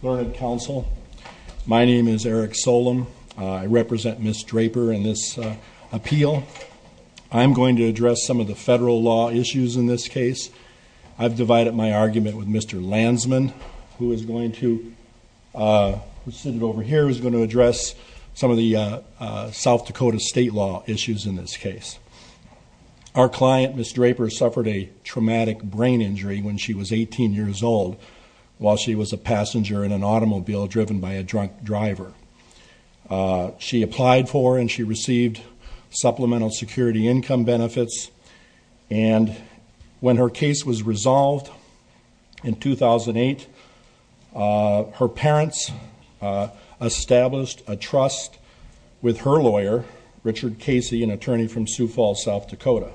Learned Counsel. My name is Eric Solem. I represent Ms. Draper in this appeal. I'm going to address some of the federal law issues in this case. I've divided my argument with Mr. Lansman who is going to sit over here is going to address some of the South Dakota state law issues in this case. Our client, Ms. Draper was a passenger in an automobile driven by a drunk driver. She applied for and she received supplemental security income benefits and when her case was resolved in 2008, her parents established a trust with her lawyer Richard Casey, an attorney from Sioux Falls, South Dakota.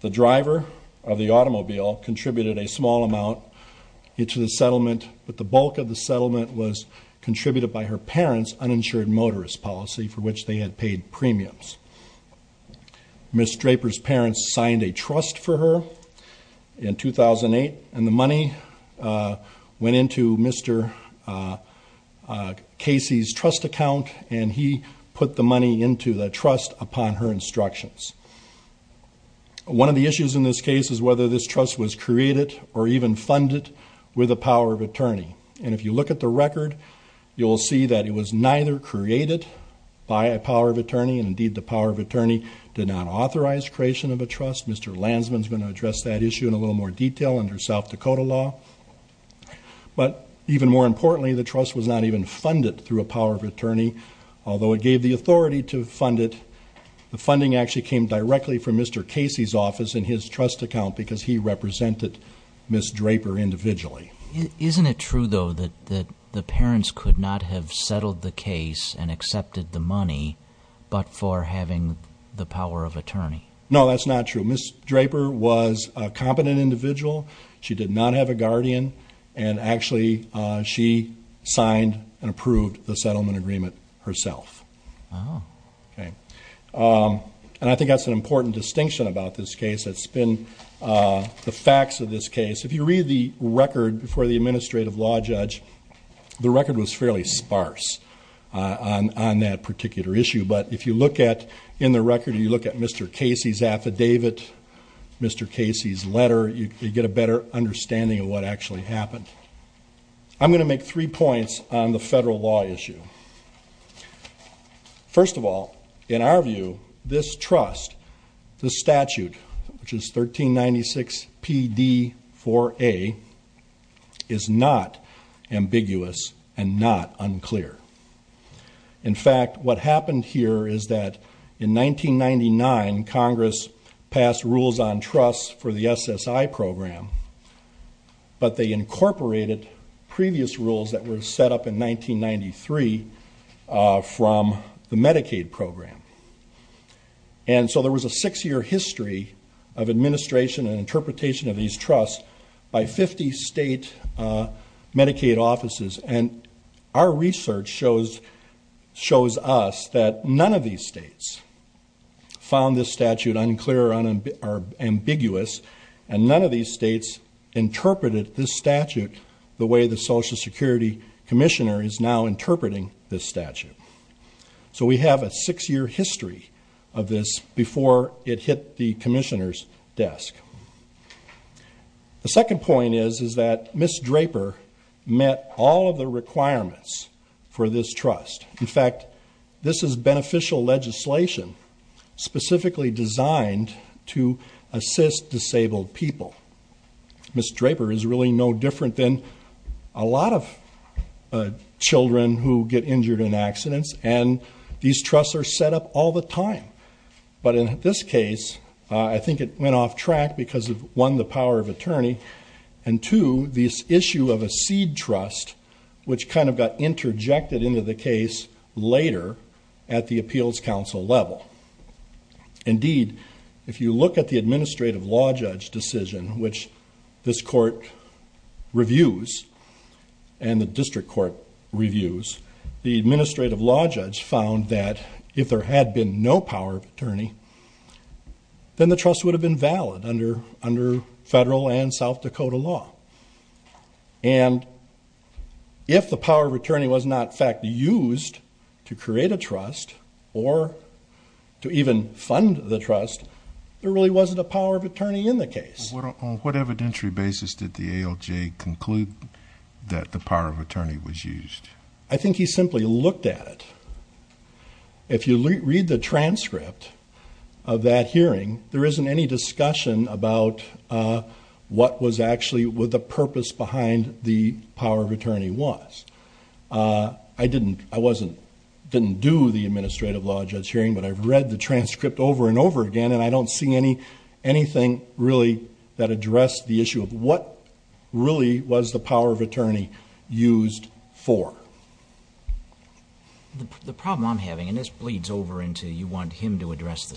The driver of the bulk of the settlement was contributed by her parents uninsured motorist policy for which they had paid premiums. Ms. Draper's parents signed a trust for her in 2008 and the money went into Mr. Casey's trust account and he put the money into the trust upon her instructions. One of the issues in this case is whether this trust was created or even funded with the power of a attorney. And if you look at the record, you'll see that it was neither created by a power of attorney and indeed the power of attorney did not authorize creation of a trust. Mr. Lansman is going to address that issue in a little more detail under South Dakota law. But even more importantly, the trust was not even funded through a power of attorney, although it gave the authority to fund it. The funding actually came directly from Mr. Casey's office in his trust account because he represented Ms. Draper individually. Isn't it true though that the parents could not have settled the case and accepted the money but for having the power of attorney? No, that's not true. Ms. Draper was a competent individual. She did not have a guardian and actually she signed and approved the settlement agreement herself. And I think that's an important distinction about this case. It's been the facts of this case. If you read the record for the administrative law judge, the record was fairly sparse on that particular issue. But if you look at in the record, you look at Mr. Casey's affidavit, Mr. Casey's letter, you get a better understanding of what actually happened. I'm going to make three points on the federal law issue. First of all, in our view, this trust, the statute, which is 1396PD4A, is not ambiguous and not unclear. In fact, what happened here is that in 1999, Congress passed rules on trust for the SSI program, but they incorporated previous rules that were set up in 1993 from the Medicaid program. And so there was a six-year history of administration and interpretation of these trusts by 50 state Medicaid offices. And our research shows us that none of these states found this statute unclear or ambiguous and none of these states interpreted this statute the way the this statute. So we have a six-year history of this before it hit the Commissioner's desk. The second point is is that Ms. Draper met all of the requirements for this trust. In fact, this is beneficial legislation specifically designed to assist disabled people. Ms. Draper is really no different than a lot of children who get injured in accidents, and these trusts are set up all the time. But in this case, I think it went off track because of, one, the power of attorney, and two, this issue of a seed trust, which kind of got interjected into the case later at the Appeals Council level. Indeed, if you look at the Administrative Law Judge decision, which this court reviews and the District Court reviews, the Administrative Law Judge found that if there had been no power of attorney, then the trust would have been valid under federal and South Dakota law. And if the power of attorney was not, in fact, used to create a trust or to even fund the trust, there really wasn't a power of attorney in the case. On what evidentiary basis did the ALJ conclude that the power of attorney was used? I think he simply looked at it. If you read the transcript of that hearing, there isn't any discussion about what was actually the purpose behind the power of attorney was. I didn't do the Administrative Law Judge hearing, but I've read the transcript over and over again, and I don't see anything really that addressed the issue of what really was the power of attorney used for. The problem I'm having, and this bleeds over into you want him to address the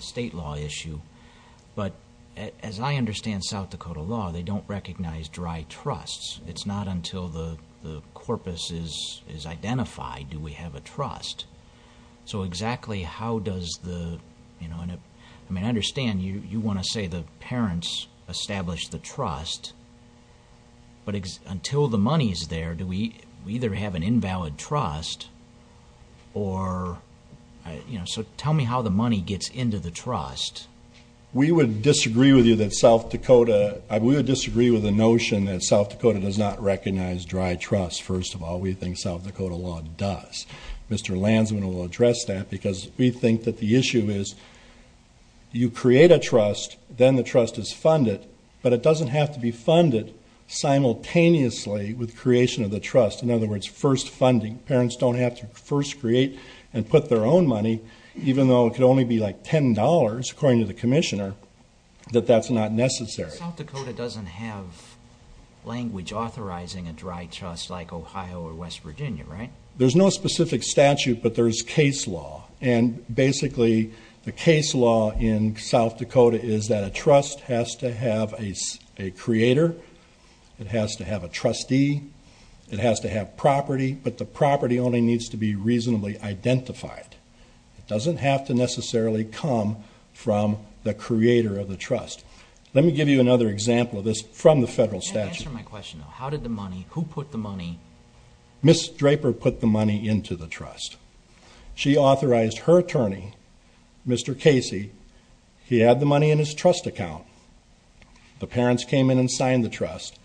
state law issue, but as I understand South Dakota law, they don't recognize dry trusts. It's not until the corpus is identified do we have a trust. So exactly how does the... I mean, I understand you want to say the parents established the trust, but until the money's there, do we either have an invalid trust or... So tell me how the money gets into the trust. We would disagree with you that South Dakota... We would disagree with the notion that South Dakota does not recognize dry trusts. First of all, we think South Dakota law does. Mr. Lansman will address that, because we think that the issue is you create a trust, then the trust is funded, but it doesn't have to be funded simultaneously with creation of the trust. In other words, first funding. Parents don't have to first create and put their own money, even though it could only be like $10, according to the Commissioner, that that's not necessary. South Dakota doesn't have language authorizing a dry trust like Ohio or West Virginia, right? There's no specific statute, but there's case law, and basically the case law in South Dakota is that a trust has to have a creator, it has to have a trustee, it has to have property, but the property only needs to be reasonably identified. It doesn't have to necessarily come from the creator of the trust. Let me give you another example of this from the federal statute. How did the money, who put the money? Ms. Draper put the money into the trust. She authorized her attorney, Mr. Casey, he had the money in his trust account. The parents came in and signed the trust,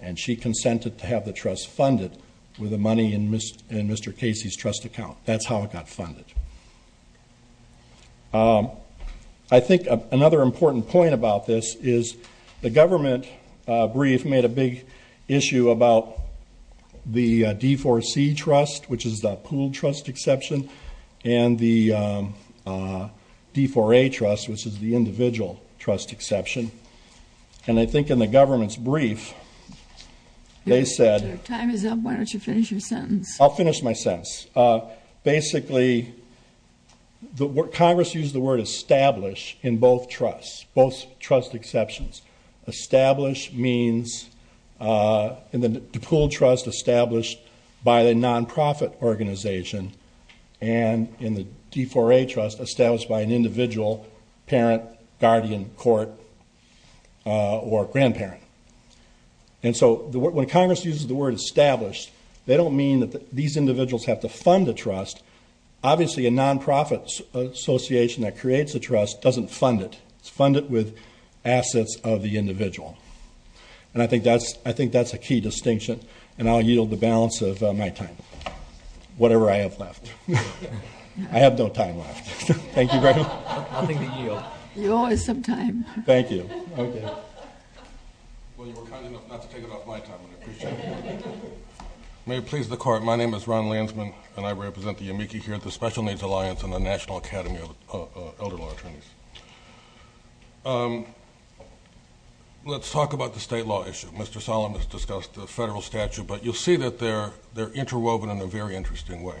and she consented to have the trust funded with the money in Mr. Casey's trust account. That's how it got funded. I think another important point about this is the government brief made a big issue about the D4C trust, which is the pool trust exception, and the D4A trust, which is the individual trust exception, and I government's brief, they said... Your time is up, why don't you finish your sentence? I'll finish my sentence. Basically, Congress used the word establish in both trusts, both trust exceptions. Establish means, in the pool trust, established by the nonprofit organization, and in the D4A trust, established by an individual parent, guardian, court, or grandparent. And so, when Congress uses the word established, they don't mean that these individuals have to fund the trust. Obviously, a nonprofit association that creates a trust doesn't fund it. It's funded with assets of the individual, and I think that's a key distinction, and I'll yield the balance of my time, whatever I have left. I have no time left. Thank you very much. You owe us some time. Thank you. May it please the court, my name is Ron Lansman, and I represent the Yamiki here at the Special Needs Alliance and the National Academy of Elder Law Attorneys. Let's talk about the state law issue. Mr. Solomon has discussed the federal statute, but you'll see that they're interwoven in a very different way.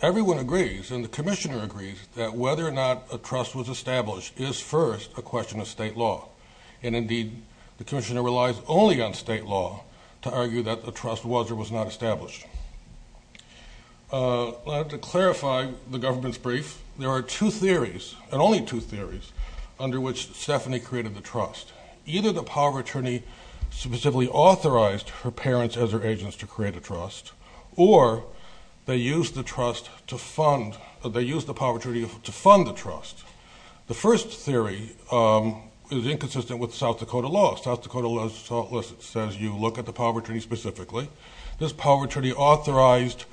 Everyone agrees, and the Commissioner agrees, that whether or not a trust was established is first a question of state law, and indeed the Commissioner relies only on state law to argue that the trust was or was not established. To clarify the government's brief, there are two theories, and only two theories, under which Stephanie created the trust. Either the power attorney specifically authorized her parents as her agents to create a trust, or they used the trust to fund, they used the power attorney to fund the trust. The first theory is inconsistent with South Dakota law. South Dakota law says you look at the power attorney specifically. This power attorney authorized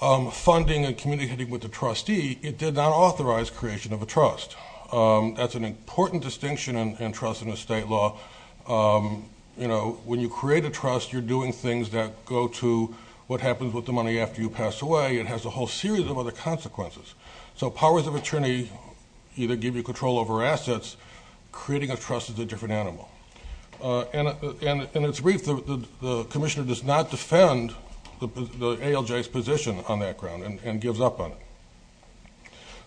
funding and communicating with the trustee. It did not authorize creation of a trust. That's an important distinction in trust in the state law. You know, when you create a trust, you're doing things that go to what happens with the money after you pass away. It has a whole series of other consequences. So powers of attorney either give you control over assets, creating a trust is a different animal. In its brief, the Commissioner does not defend the ALJ's position on that ground, and gives up on it.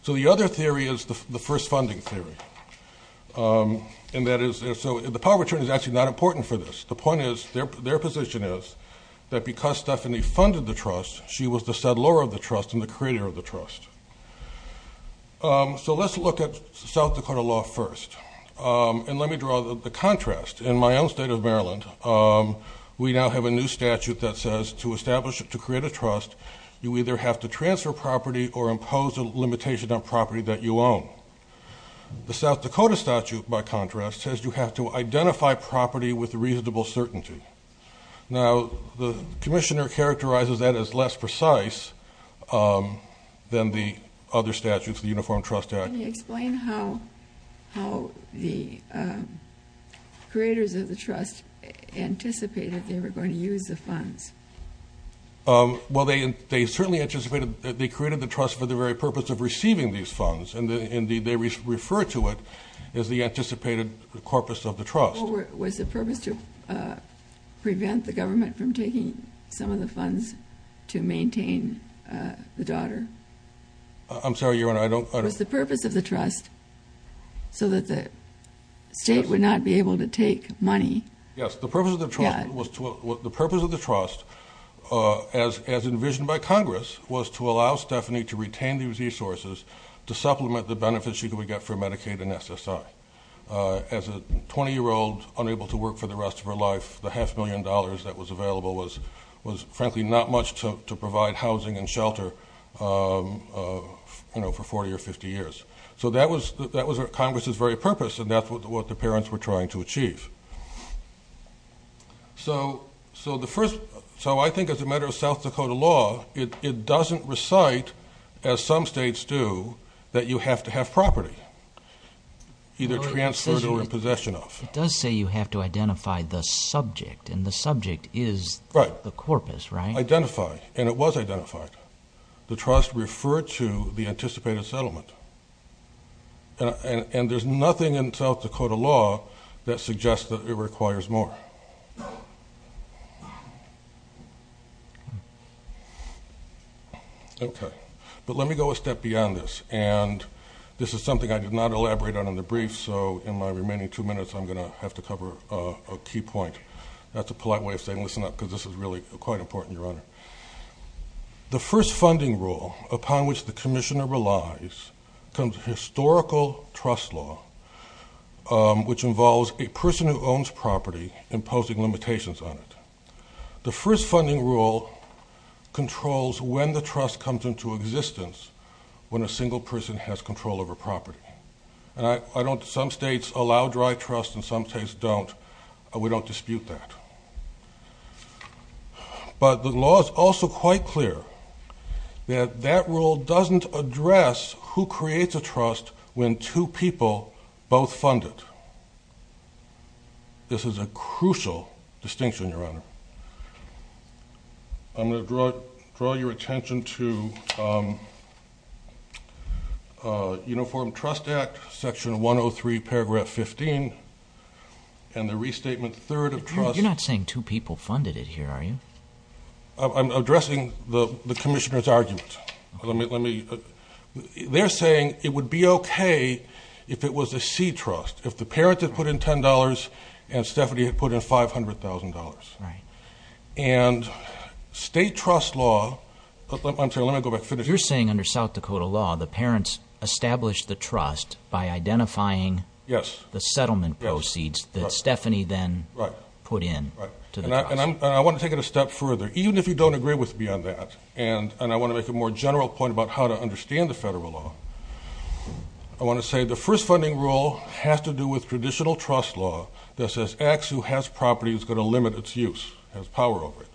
So the other theory is the first funding theory. The power attorney is actually not important for this. The position is that because Stephanie funded the trust, she was the settler of the trust and the creator of the trust. So let's look at South Dakota law first. And let me draw the contrast. In my own state of Maryland, we now have a new statute that says to establish, to create a trust, you either have to transfer property or impose a limitation on property that you own. The South Dakota statute, by contrast, says you have to identify property with a reasonable certainty. Now, the Commissioner characterizes that as less precise than the other statutes, the Uniform Trust Act. Can you explain how the creators of the trust anticipated they were going to use the funds? Well, they certainly anticipated that they created the trust for the very purpose of receiving these funds, and they refer to it as the anticipated corpus of the trust. Was the purpose to prevent the government from taking some of the funds to maintain the daughter? I'm sorry, Your Honor, I don't... Was the purpose of the trust so that the state would not be able to take money? Yes, the purpose of the trust was to... The purpose of the trust, as envisioned by Congress, was to allow Stephanie to retain these resources to supplement the benefits she could get for Medicaid and SSI. As a 20 year old, unable to work for the rest of her life, the half million dollars that was available was, frankly, not much to provide housing and shelter for 40 or 50 years. So that was Congress's very purpose, and that's what the parents were trying to achieve. So the first... So I think as a matter of South Dakota law, it doesn't recite, as some states do, that you have to have property. Either transferred or in possession of. It does say you have to identify the subject, and the subject is the corpus, right? Right. Identify, and it was identified. The trust referred to the anticipated settlement, and there's nothing in South Dakota law that suggests that it requires more. Okay. But let me go a step beyond this, and this is something I did not elaborate on in the brief, so in my remaining two minutes, I'm gonna have to cover a key point. That's a polite way of saying, listen up, because this is really quite important, Your Honor. The first funding rule upon which the commissioner relies comes from historical trust law, which involves a person who owns property imposing limitations on it. The first funding rule controls when the trust comes into existence when a single person has control over property. And I don't... Some states allow dry trust, and some states don't. We don't dispute that. But the law is also quite clear that that rule doesn't address who creates a trust when two people both fund it. This is a crucial distinction, Your Honor. I'm gonna draw your attention to Uniform Trust Act, section 103, paragraph 15, and the restatement third of trust... You're not saying two people funded it here, are you? I'm addressing the commissioner's argument. They're saying it would be okay if it was a C trust, if the parents had put in $10 and Stephanie had put in $500,000. Right. And state trust law... I'm sorry, let me go back, finish. You're saying under South Dakota law, the parents established the trust by themselves. And I wanna take it a step further. Even if you don't agree with me on that, and I wanna make a more general point about how to understand the federal law, I wanna say the first funding rule has to do with traditional trust law that says acts who has property is gonna limit its use, has power over it.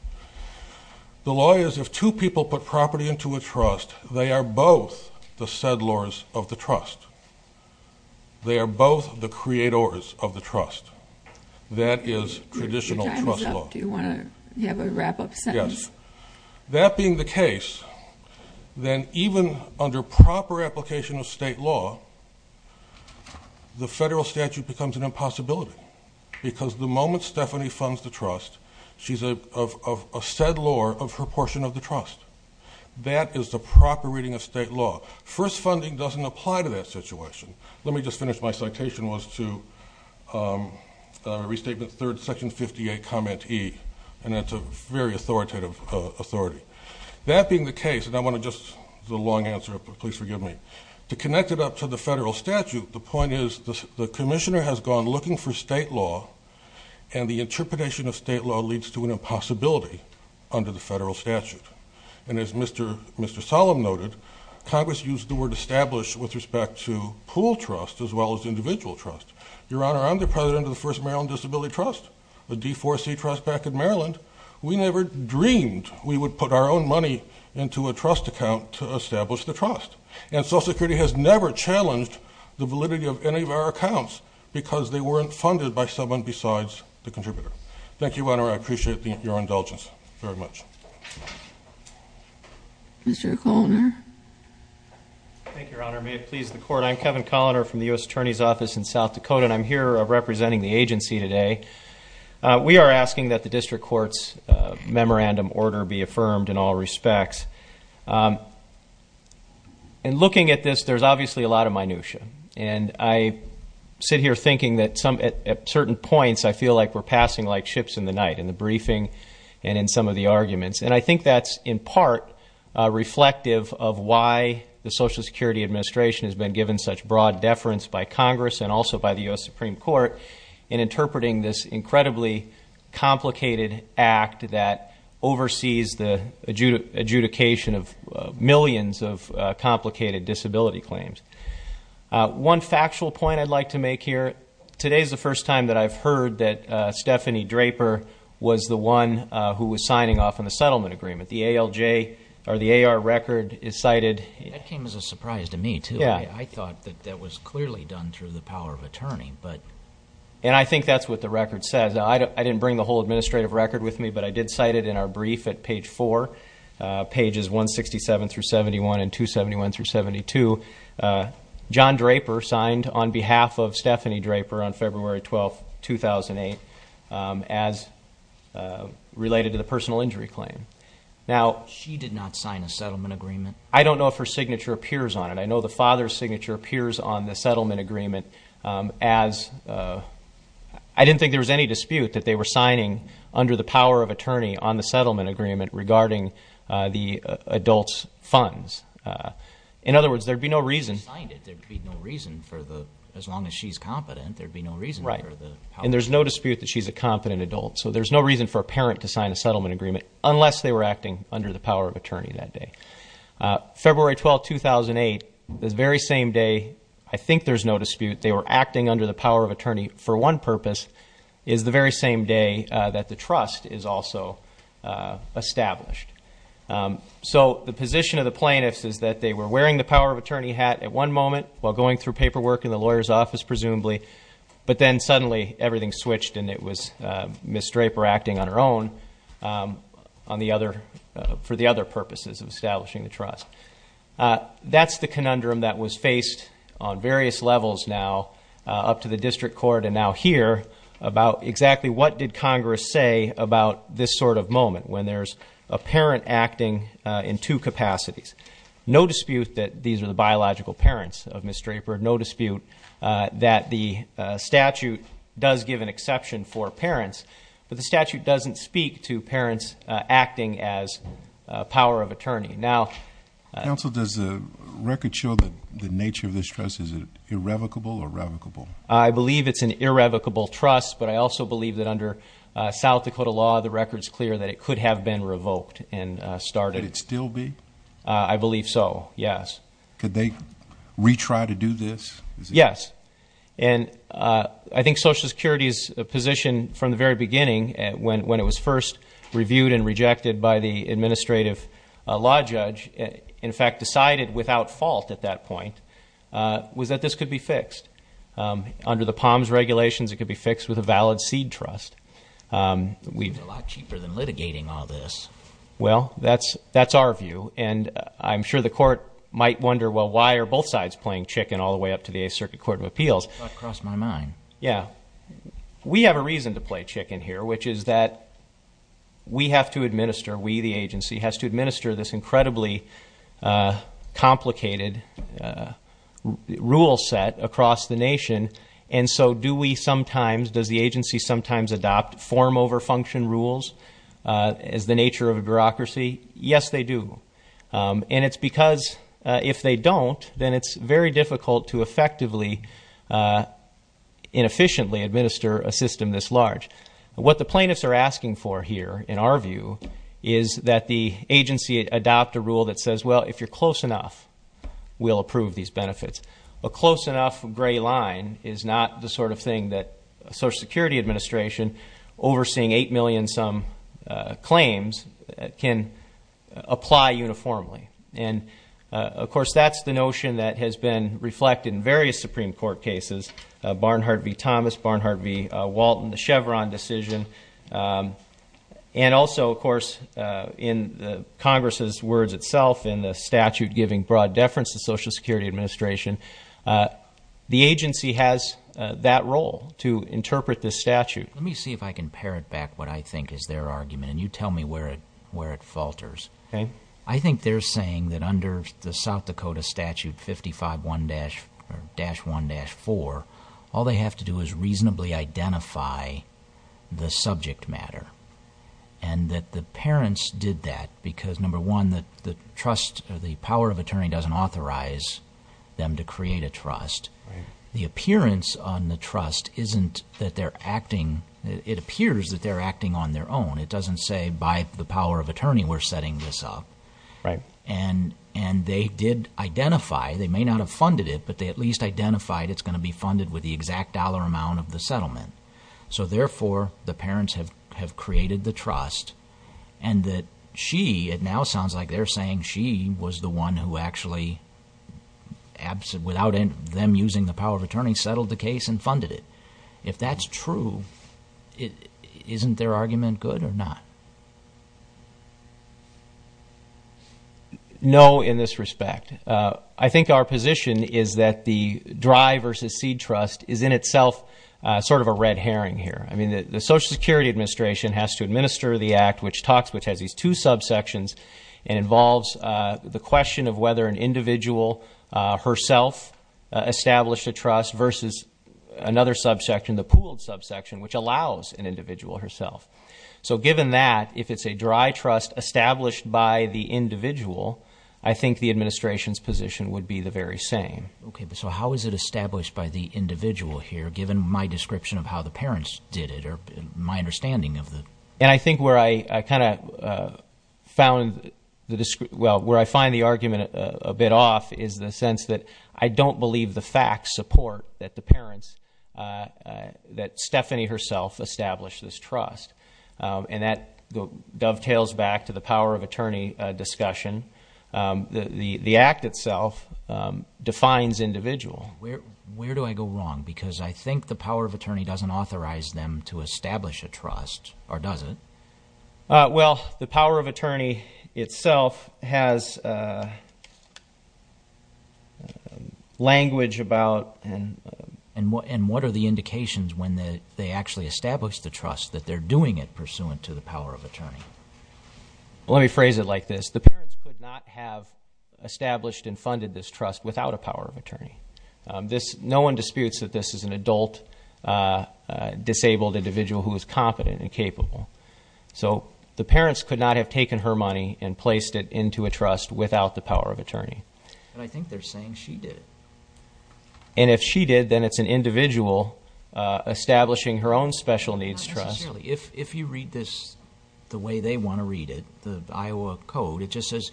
The law is if two people put property into a trust, they are both the settlers of the trust. They are both the creators of the trust. That is traditional trust law. Do you wanna have a wrap up sentence? Yes. That being the case, then even under proper application of state law, the federal statute becomes an impossibility. Because the moment Stephanie funds the trust, she's a settlor of her portion of the trust. That is the proper reading of state law. First funding doesn't apply to that situation. Let me just finish. My citation was to... Restatement third, section 58, comment E. And that's a very authoritative authority. That being the case, and I wanna just... It's a long answer, but please forgive me. To connect it up to the federal statute, the point is the commissioner has gone looking for state law, and the interpretation of state law leads to an impossibility under the federal statute. And as Mr. Solem noted, Congress used the word established under President of the First Maryland Disability Trust, a D4C trust back in Maryland. We never dreamed we would put our own money into a trust account to establish the trust. And Social Security has never challenged the validity of any of our accounts because they weren't funded by someone besides the contributor. Thank you, Your Honor. I appreciate your indulgence very much. Mr. Coloner. Thank you, Your Honor. May it please the court. I'm Kevin Coloner from the US Attorney's Office in South Dakota, and I'm here representing the agency today. We are asking that the district court's memorandum order be affirmed in all respects. And looking at this, there's obviously a lot of minutia. And I sit here thinking that at certain points, I feel like we're passing like ships in the night, in the briefing and in some of the arguments. And I think that's in part reflective of why the Social Security Administration has been given such broad deference by Congress and also by the US Supreme Court in interpreting this incredibly complicated act that oversees the adjudication of millions of complicated disability claims. One factual point I'd like to make here, today's the first time that I've heard that Stephanie Draper was the one who was signing off on the settlement agreement. The ALJ or the AR record is cited... That came as a surprise to me too. Yeah. I thought that that was clearly done through the power of attorney, but... And I think that's what the record says. I didn't bring the whole administrative record with me, but I did cite it in our brief at page four, pages 167 through 71 and 271 through 72. John Draper signed on behalf of Stephanie Draper on February 12th, 2008, as related to the personal injury claim. Now... She did not sign a settlement agreement? I don't know if her signature appears on it. I know the father's signature appears on the settlement agreement as... I didn't think there was any dispute that they were signing under the power of attorney on the settlement agreement regarding the adult's funds. In other words, there'd be no reason... She signed it, there'd be no reason for the... As long as she's competent, there'd be no reason for the... Right. And there's no dispute that she's a competent adult. So there's no reason for a parent to sign a settlement agreement unless they were acting under the power of attorney that day. February 12th, 2008, the very same day, I think there's no dispute, they were acting under the power of attorney for one purpose, is the very same day that the trust is also established. So the position of the plaintiffs is that they were wearing the power of attorney hat at one moment while going through paperwork in the lawyer's office, presumably, but then suddenly everything switched and it was Ms. Draper acting on her own for the other purposes of establishing the trust. That's the conundrum that was faced on various levels now, up to the district court and now here, about exactly what did Congress say about this sort of moment when there's a parent acting in two capacities. No dispute that these are the biological parents of Ms. Draper, no dispute that the statute does give an exception for parents, but the statute doesn't speak to parents acting as power of attorney. Now... Counsel, does the record show that the nature of this trust, is it irrevocable or revocable? I believe it's an irrevocable trust, but I also believe that under South Dakota law, the record's clear that it could have been revoked and started. Could it still be? I believe so, yes. Could they retry to do this? Yes. And I think Social Security's position from the very beginning, when it was first reviewed and rejected by the administrative law judge, in fact, decided without fault at that point, was that this could be fixed. Under the POMS regulations, it could be fixed with a valid seed trust. We've... It's a lot cheaper than litigating all this. Well, that's our view, and I'm sure the court might wonder, well, why are both sides playing chicken all the way up to the 8th Circuit Court of Appeals? That crossed my mind. Yeah. We have a reason to play chicken here, which is that we have to administer, we, the agency, has to administer this incredibly complicated rule set across the nation, and so do we sometimes, does the agency sometimes adopt form over function rules as the nature of a bureaucracy? Yes, they do. And it's because if they don't, then it's very difficult to effectively inefficiently administer a system this large. What the plaintiffs are asking for here, in our view, is that the agency adopt a rule that says, well, if you're close enough, we'll approve these benefits. A close enough gray line is not the sort of thing that Social Security Administration, overseeing 8 million some claims, can apply uniformly. And, of course, that's the notion that has been reflected in various Supreme Court cases, Barnhart v. Thomas, Barnhart v. Walton, the Chevron decision. And also, of course, in the Congress's words itself, in the statute giving broad deference to Social Security Administration, the agency has that role to interpret this statute. Let me see if I can parrot back what I think is their argument, and you tell me where it falters. Okay. I think they're saying that under the South Dakota statute 55-1-4, all they have to do is reasonably identify the subject matter, and that the parents did that because, number one, the trust... The power of attorney doesn't authorize them to create a trust. The appearance on the trust isn't that they're acting... It appears that they're acting on their own. It doesn't say, by the power of attorney, we're setting this up. Right. And they did identify, they may not have funded it, but they at least identified it's gonna be funded with the exact dollar amount of the settlement. So therefore, the parents have created the trust, and that she... It now sounds like they're saying she was the one who actually, without them using the power of attorney, settled the case and funded it. If that's true, isn't their argument good or not? No, in this respect. I think our position is that the dry versus seed trust is in itself sort of a red herring here. The Social Security Administration has to administer the act, which talks... Which has these two subsections and involves the question of whether an individual herself established a trust versus another subsection, the pooled subsection, which allows an individual herself. So given that, if it's a dry trust established by the individual, I think the administration's position would be the very same. Okay, but so how is it established by the individual here, given my description of how the parents did it, or my understanding of the... And I think where I kinda found the... Well, where I find the argument a bit off is the sense that I don't believe the facts support that the parents... That Stephanie herself established this trust. And that dovetails back to the power of attorney discussion. The act itself defines individual. Where do I go wrong? Because I think the power of attorney doesn't authorize them to establish a trust, or does it? Well, the power of attorney itself has language about... And what are the indications when they actually establish the trust, that they're doing it pursuant to the power of attorney? Well, let me phrase it like this. The parents could not have established and funded this trust without a power of attorney. No one disputes that this is an adult disabled individual who is competent and capable. So the parents could not have taken her money and placed it into a trust without the power of attorney. And I think they're saying she did it. And if she did, then it's an individual establishing her own special needs trust. Not necessarily. If you read this the way they wanna read it, the Iowa Code, it just says,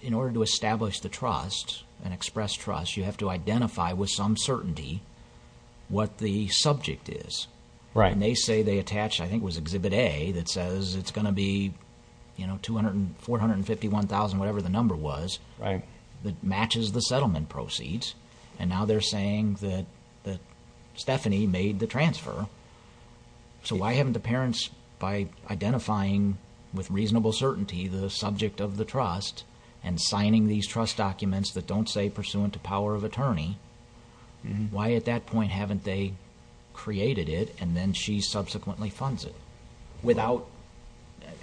in order to establish the trust, an express trust, you have to identify with some certainty what the subject is. And they say they attached, I think it was Exhibit A, that says it's gonna be 451,000, whatever the number was, that matches the settlement proceeds. And now they're saying that Stephanie made the transfer. So why haven't the parents, by identifying with reasonable certainty, the subject of the trust, and signing these trust documents that don't say pursuant to power of attorney, why at that point haven't they created it, and then she subsequently funds it? Without,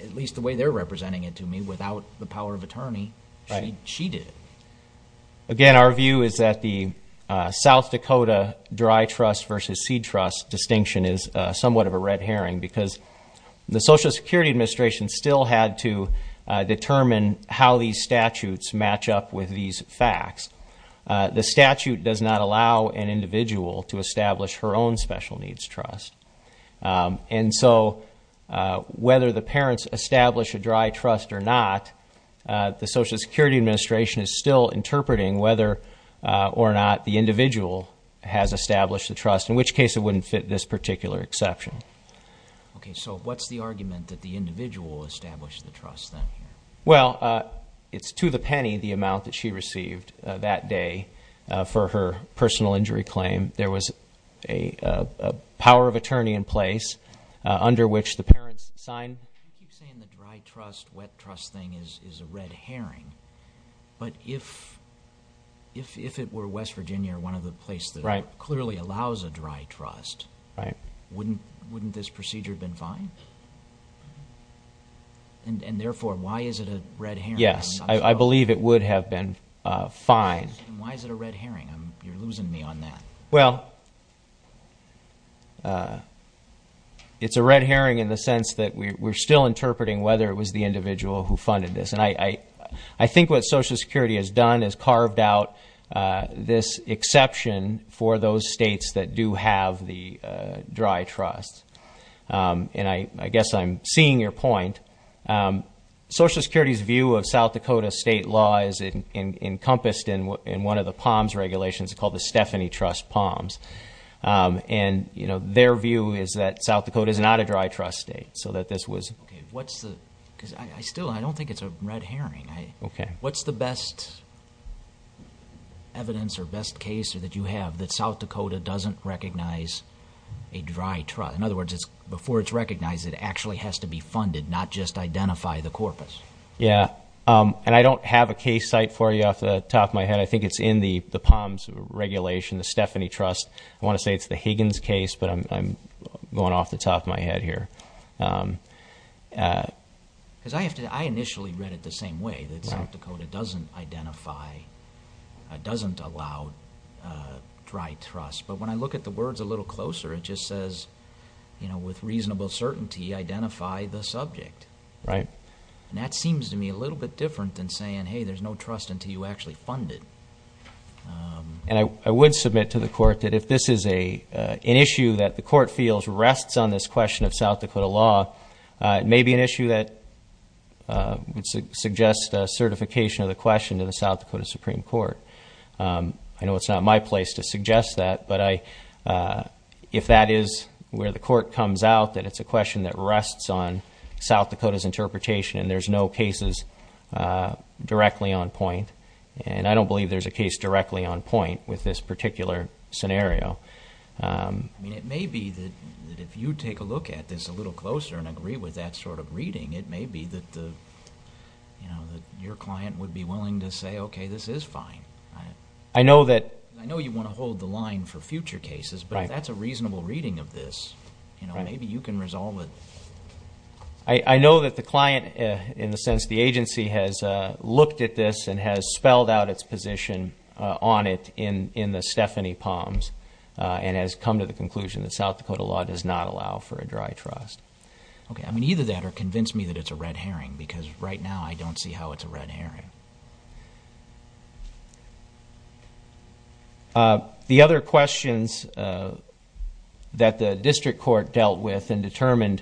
at least the way they're representing it to me, without the power of attorney, she did. Again, our view is that the South Dakota Dry Trust versus Seed Trust distinction is somewhat of a red herring because the Social Security Administration still had to determine how these statutes match up with these facts. The statute does not allow an individual to establish her own special needs trust. And so whether the parents establish a dry trust or not, the Social Security Administration is still interpreting whether or not the individual has established the trust, in which case it wouldn't fit this particular exception. Okay, so what's the argument that the individual established the trust then? Well, it's to the penny the amount that she received that day for her personal injury claim. There was a power of attorney in place under which the parents signed. You keep saying the dry trust, wet trust thing is a red herring, but if it were West Virginia or one of the places that clearly allows a dry trust, wouldn't this procedure have been fine? And therefore, why is it a red herring? Yes, I believe it would have been fine. And why is it a red herring? You're losing me on that. Well, it's a red herring in the sense that we're still interpreting whether it was the individual who funded this. And I think what Social Security has done is carved out this exception for those states that do have the dry trust. And I guess I'm seeing your point. Social Security's view of South Dakota state law is encompassed in one of the POMS regulations called the Stephanie Trust POMS. And their view is that South Dakota is not a dry trust state, so that this was... Okay, what's the... Because I still... I don't think it's a red herring. Okay. What's the best evidence or best case that you have that South Dakota doesn't recognize a dry trust? In other words, before it's recognized, it actually has to be funded, not just identify the corpus. Yeah, and I don't have a case site for you off the top of my head. I think it's in the POMS regulation, the Stephanie Trust. I wanna say it's the Higgins case, but I'm going off the top of my head here. Because I have to... I initially read it the same way, that South Dakota doesn't identify, doesn't allow dry trust. But when I look at the words a little closer, it just says, with reasonable certainty, identify the subject. Right. And that seems to me a little bit different than saying, hey, there's no trust until you actually fund it. And I would submit to the court that if this is an issue that the court feels rests on this question of South Dakota law, it may be an issue that would suggest a certification of the question to the South Dakota Supreme Court. I know it's not my place to suggest that, but if that is where the court comes out, that it's a question that rests on South Dakota's interpretation and there's no cases directly on point. And I don't believe there's a case directly on point with this particular scenario. I mean, it may be that if you take a look at this a little closer and agree with that sort of reading, it may be that your client would be willing to say, okay, this is fine. I know that... I know you wanna hold the line for future cases, but if that's a reasonable reading of this, maybe you can resolve it. I know that the client, in the sense the agency has looked at this and has spelled out its position on it in the Stephanie Palms and has come to the conclusion that South Dakota law does not allow for a dry trust. Okay. I mean, either that or convince me that it's a red herring, because right now I don't see how it's a red herring. The other questions that the district court dealt with and determined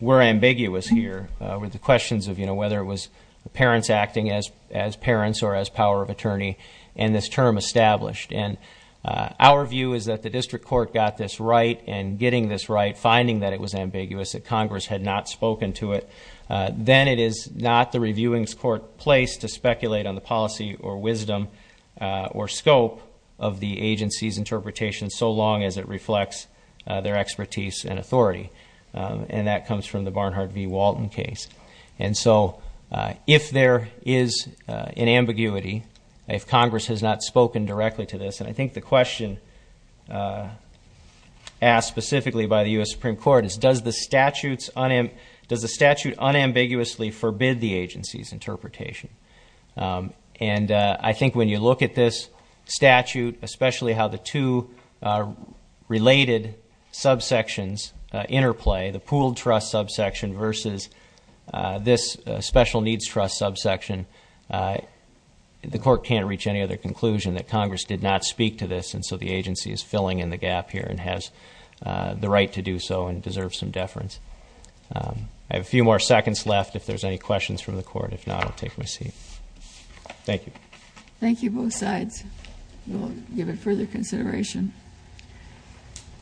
were ambiguous here, were the questions of whether it was parents acting as parents or as power of attorney and this term established. And our view is that the district court got this right and getting this right, finding that it was ambiguous, that Congress had not spoken to it. Then it is not the reviewings court place to speculate on the policy or wisdom or scope of the agency's interpretation so long as it reflects their expertise and authority. And that comes from the Barnhart v. Walton case. And so if there is an ambiguity, if Congress has not spoken directly to this, and I think the question asked specifically by the US Supreme Court is, does the statute unambiguously forbid the agency's interpretation? And I think when you look at this statute, especially how the two related subsections interplay, the pooled trust subsection versus this special needs trust subsection, the court can't reach any other conclusion that Congress did not speak to this, and so the agency is filling in the gap here and has the right to do so and deserves some deference. I have a few more seconds left if there's any questions from the court. If not, I'll take my seat. Thank you. Thank you, both sides. We'll give it further consideration. Thank you.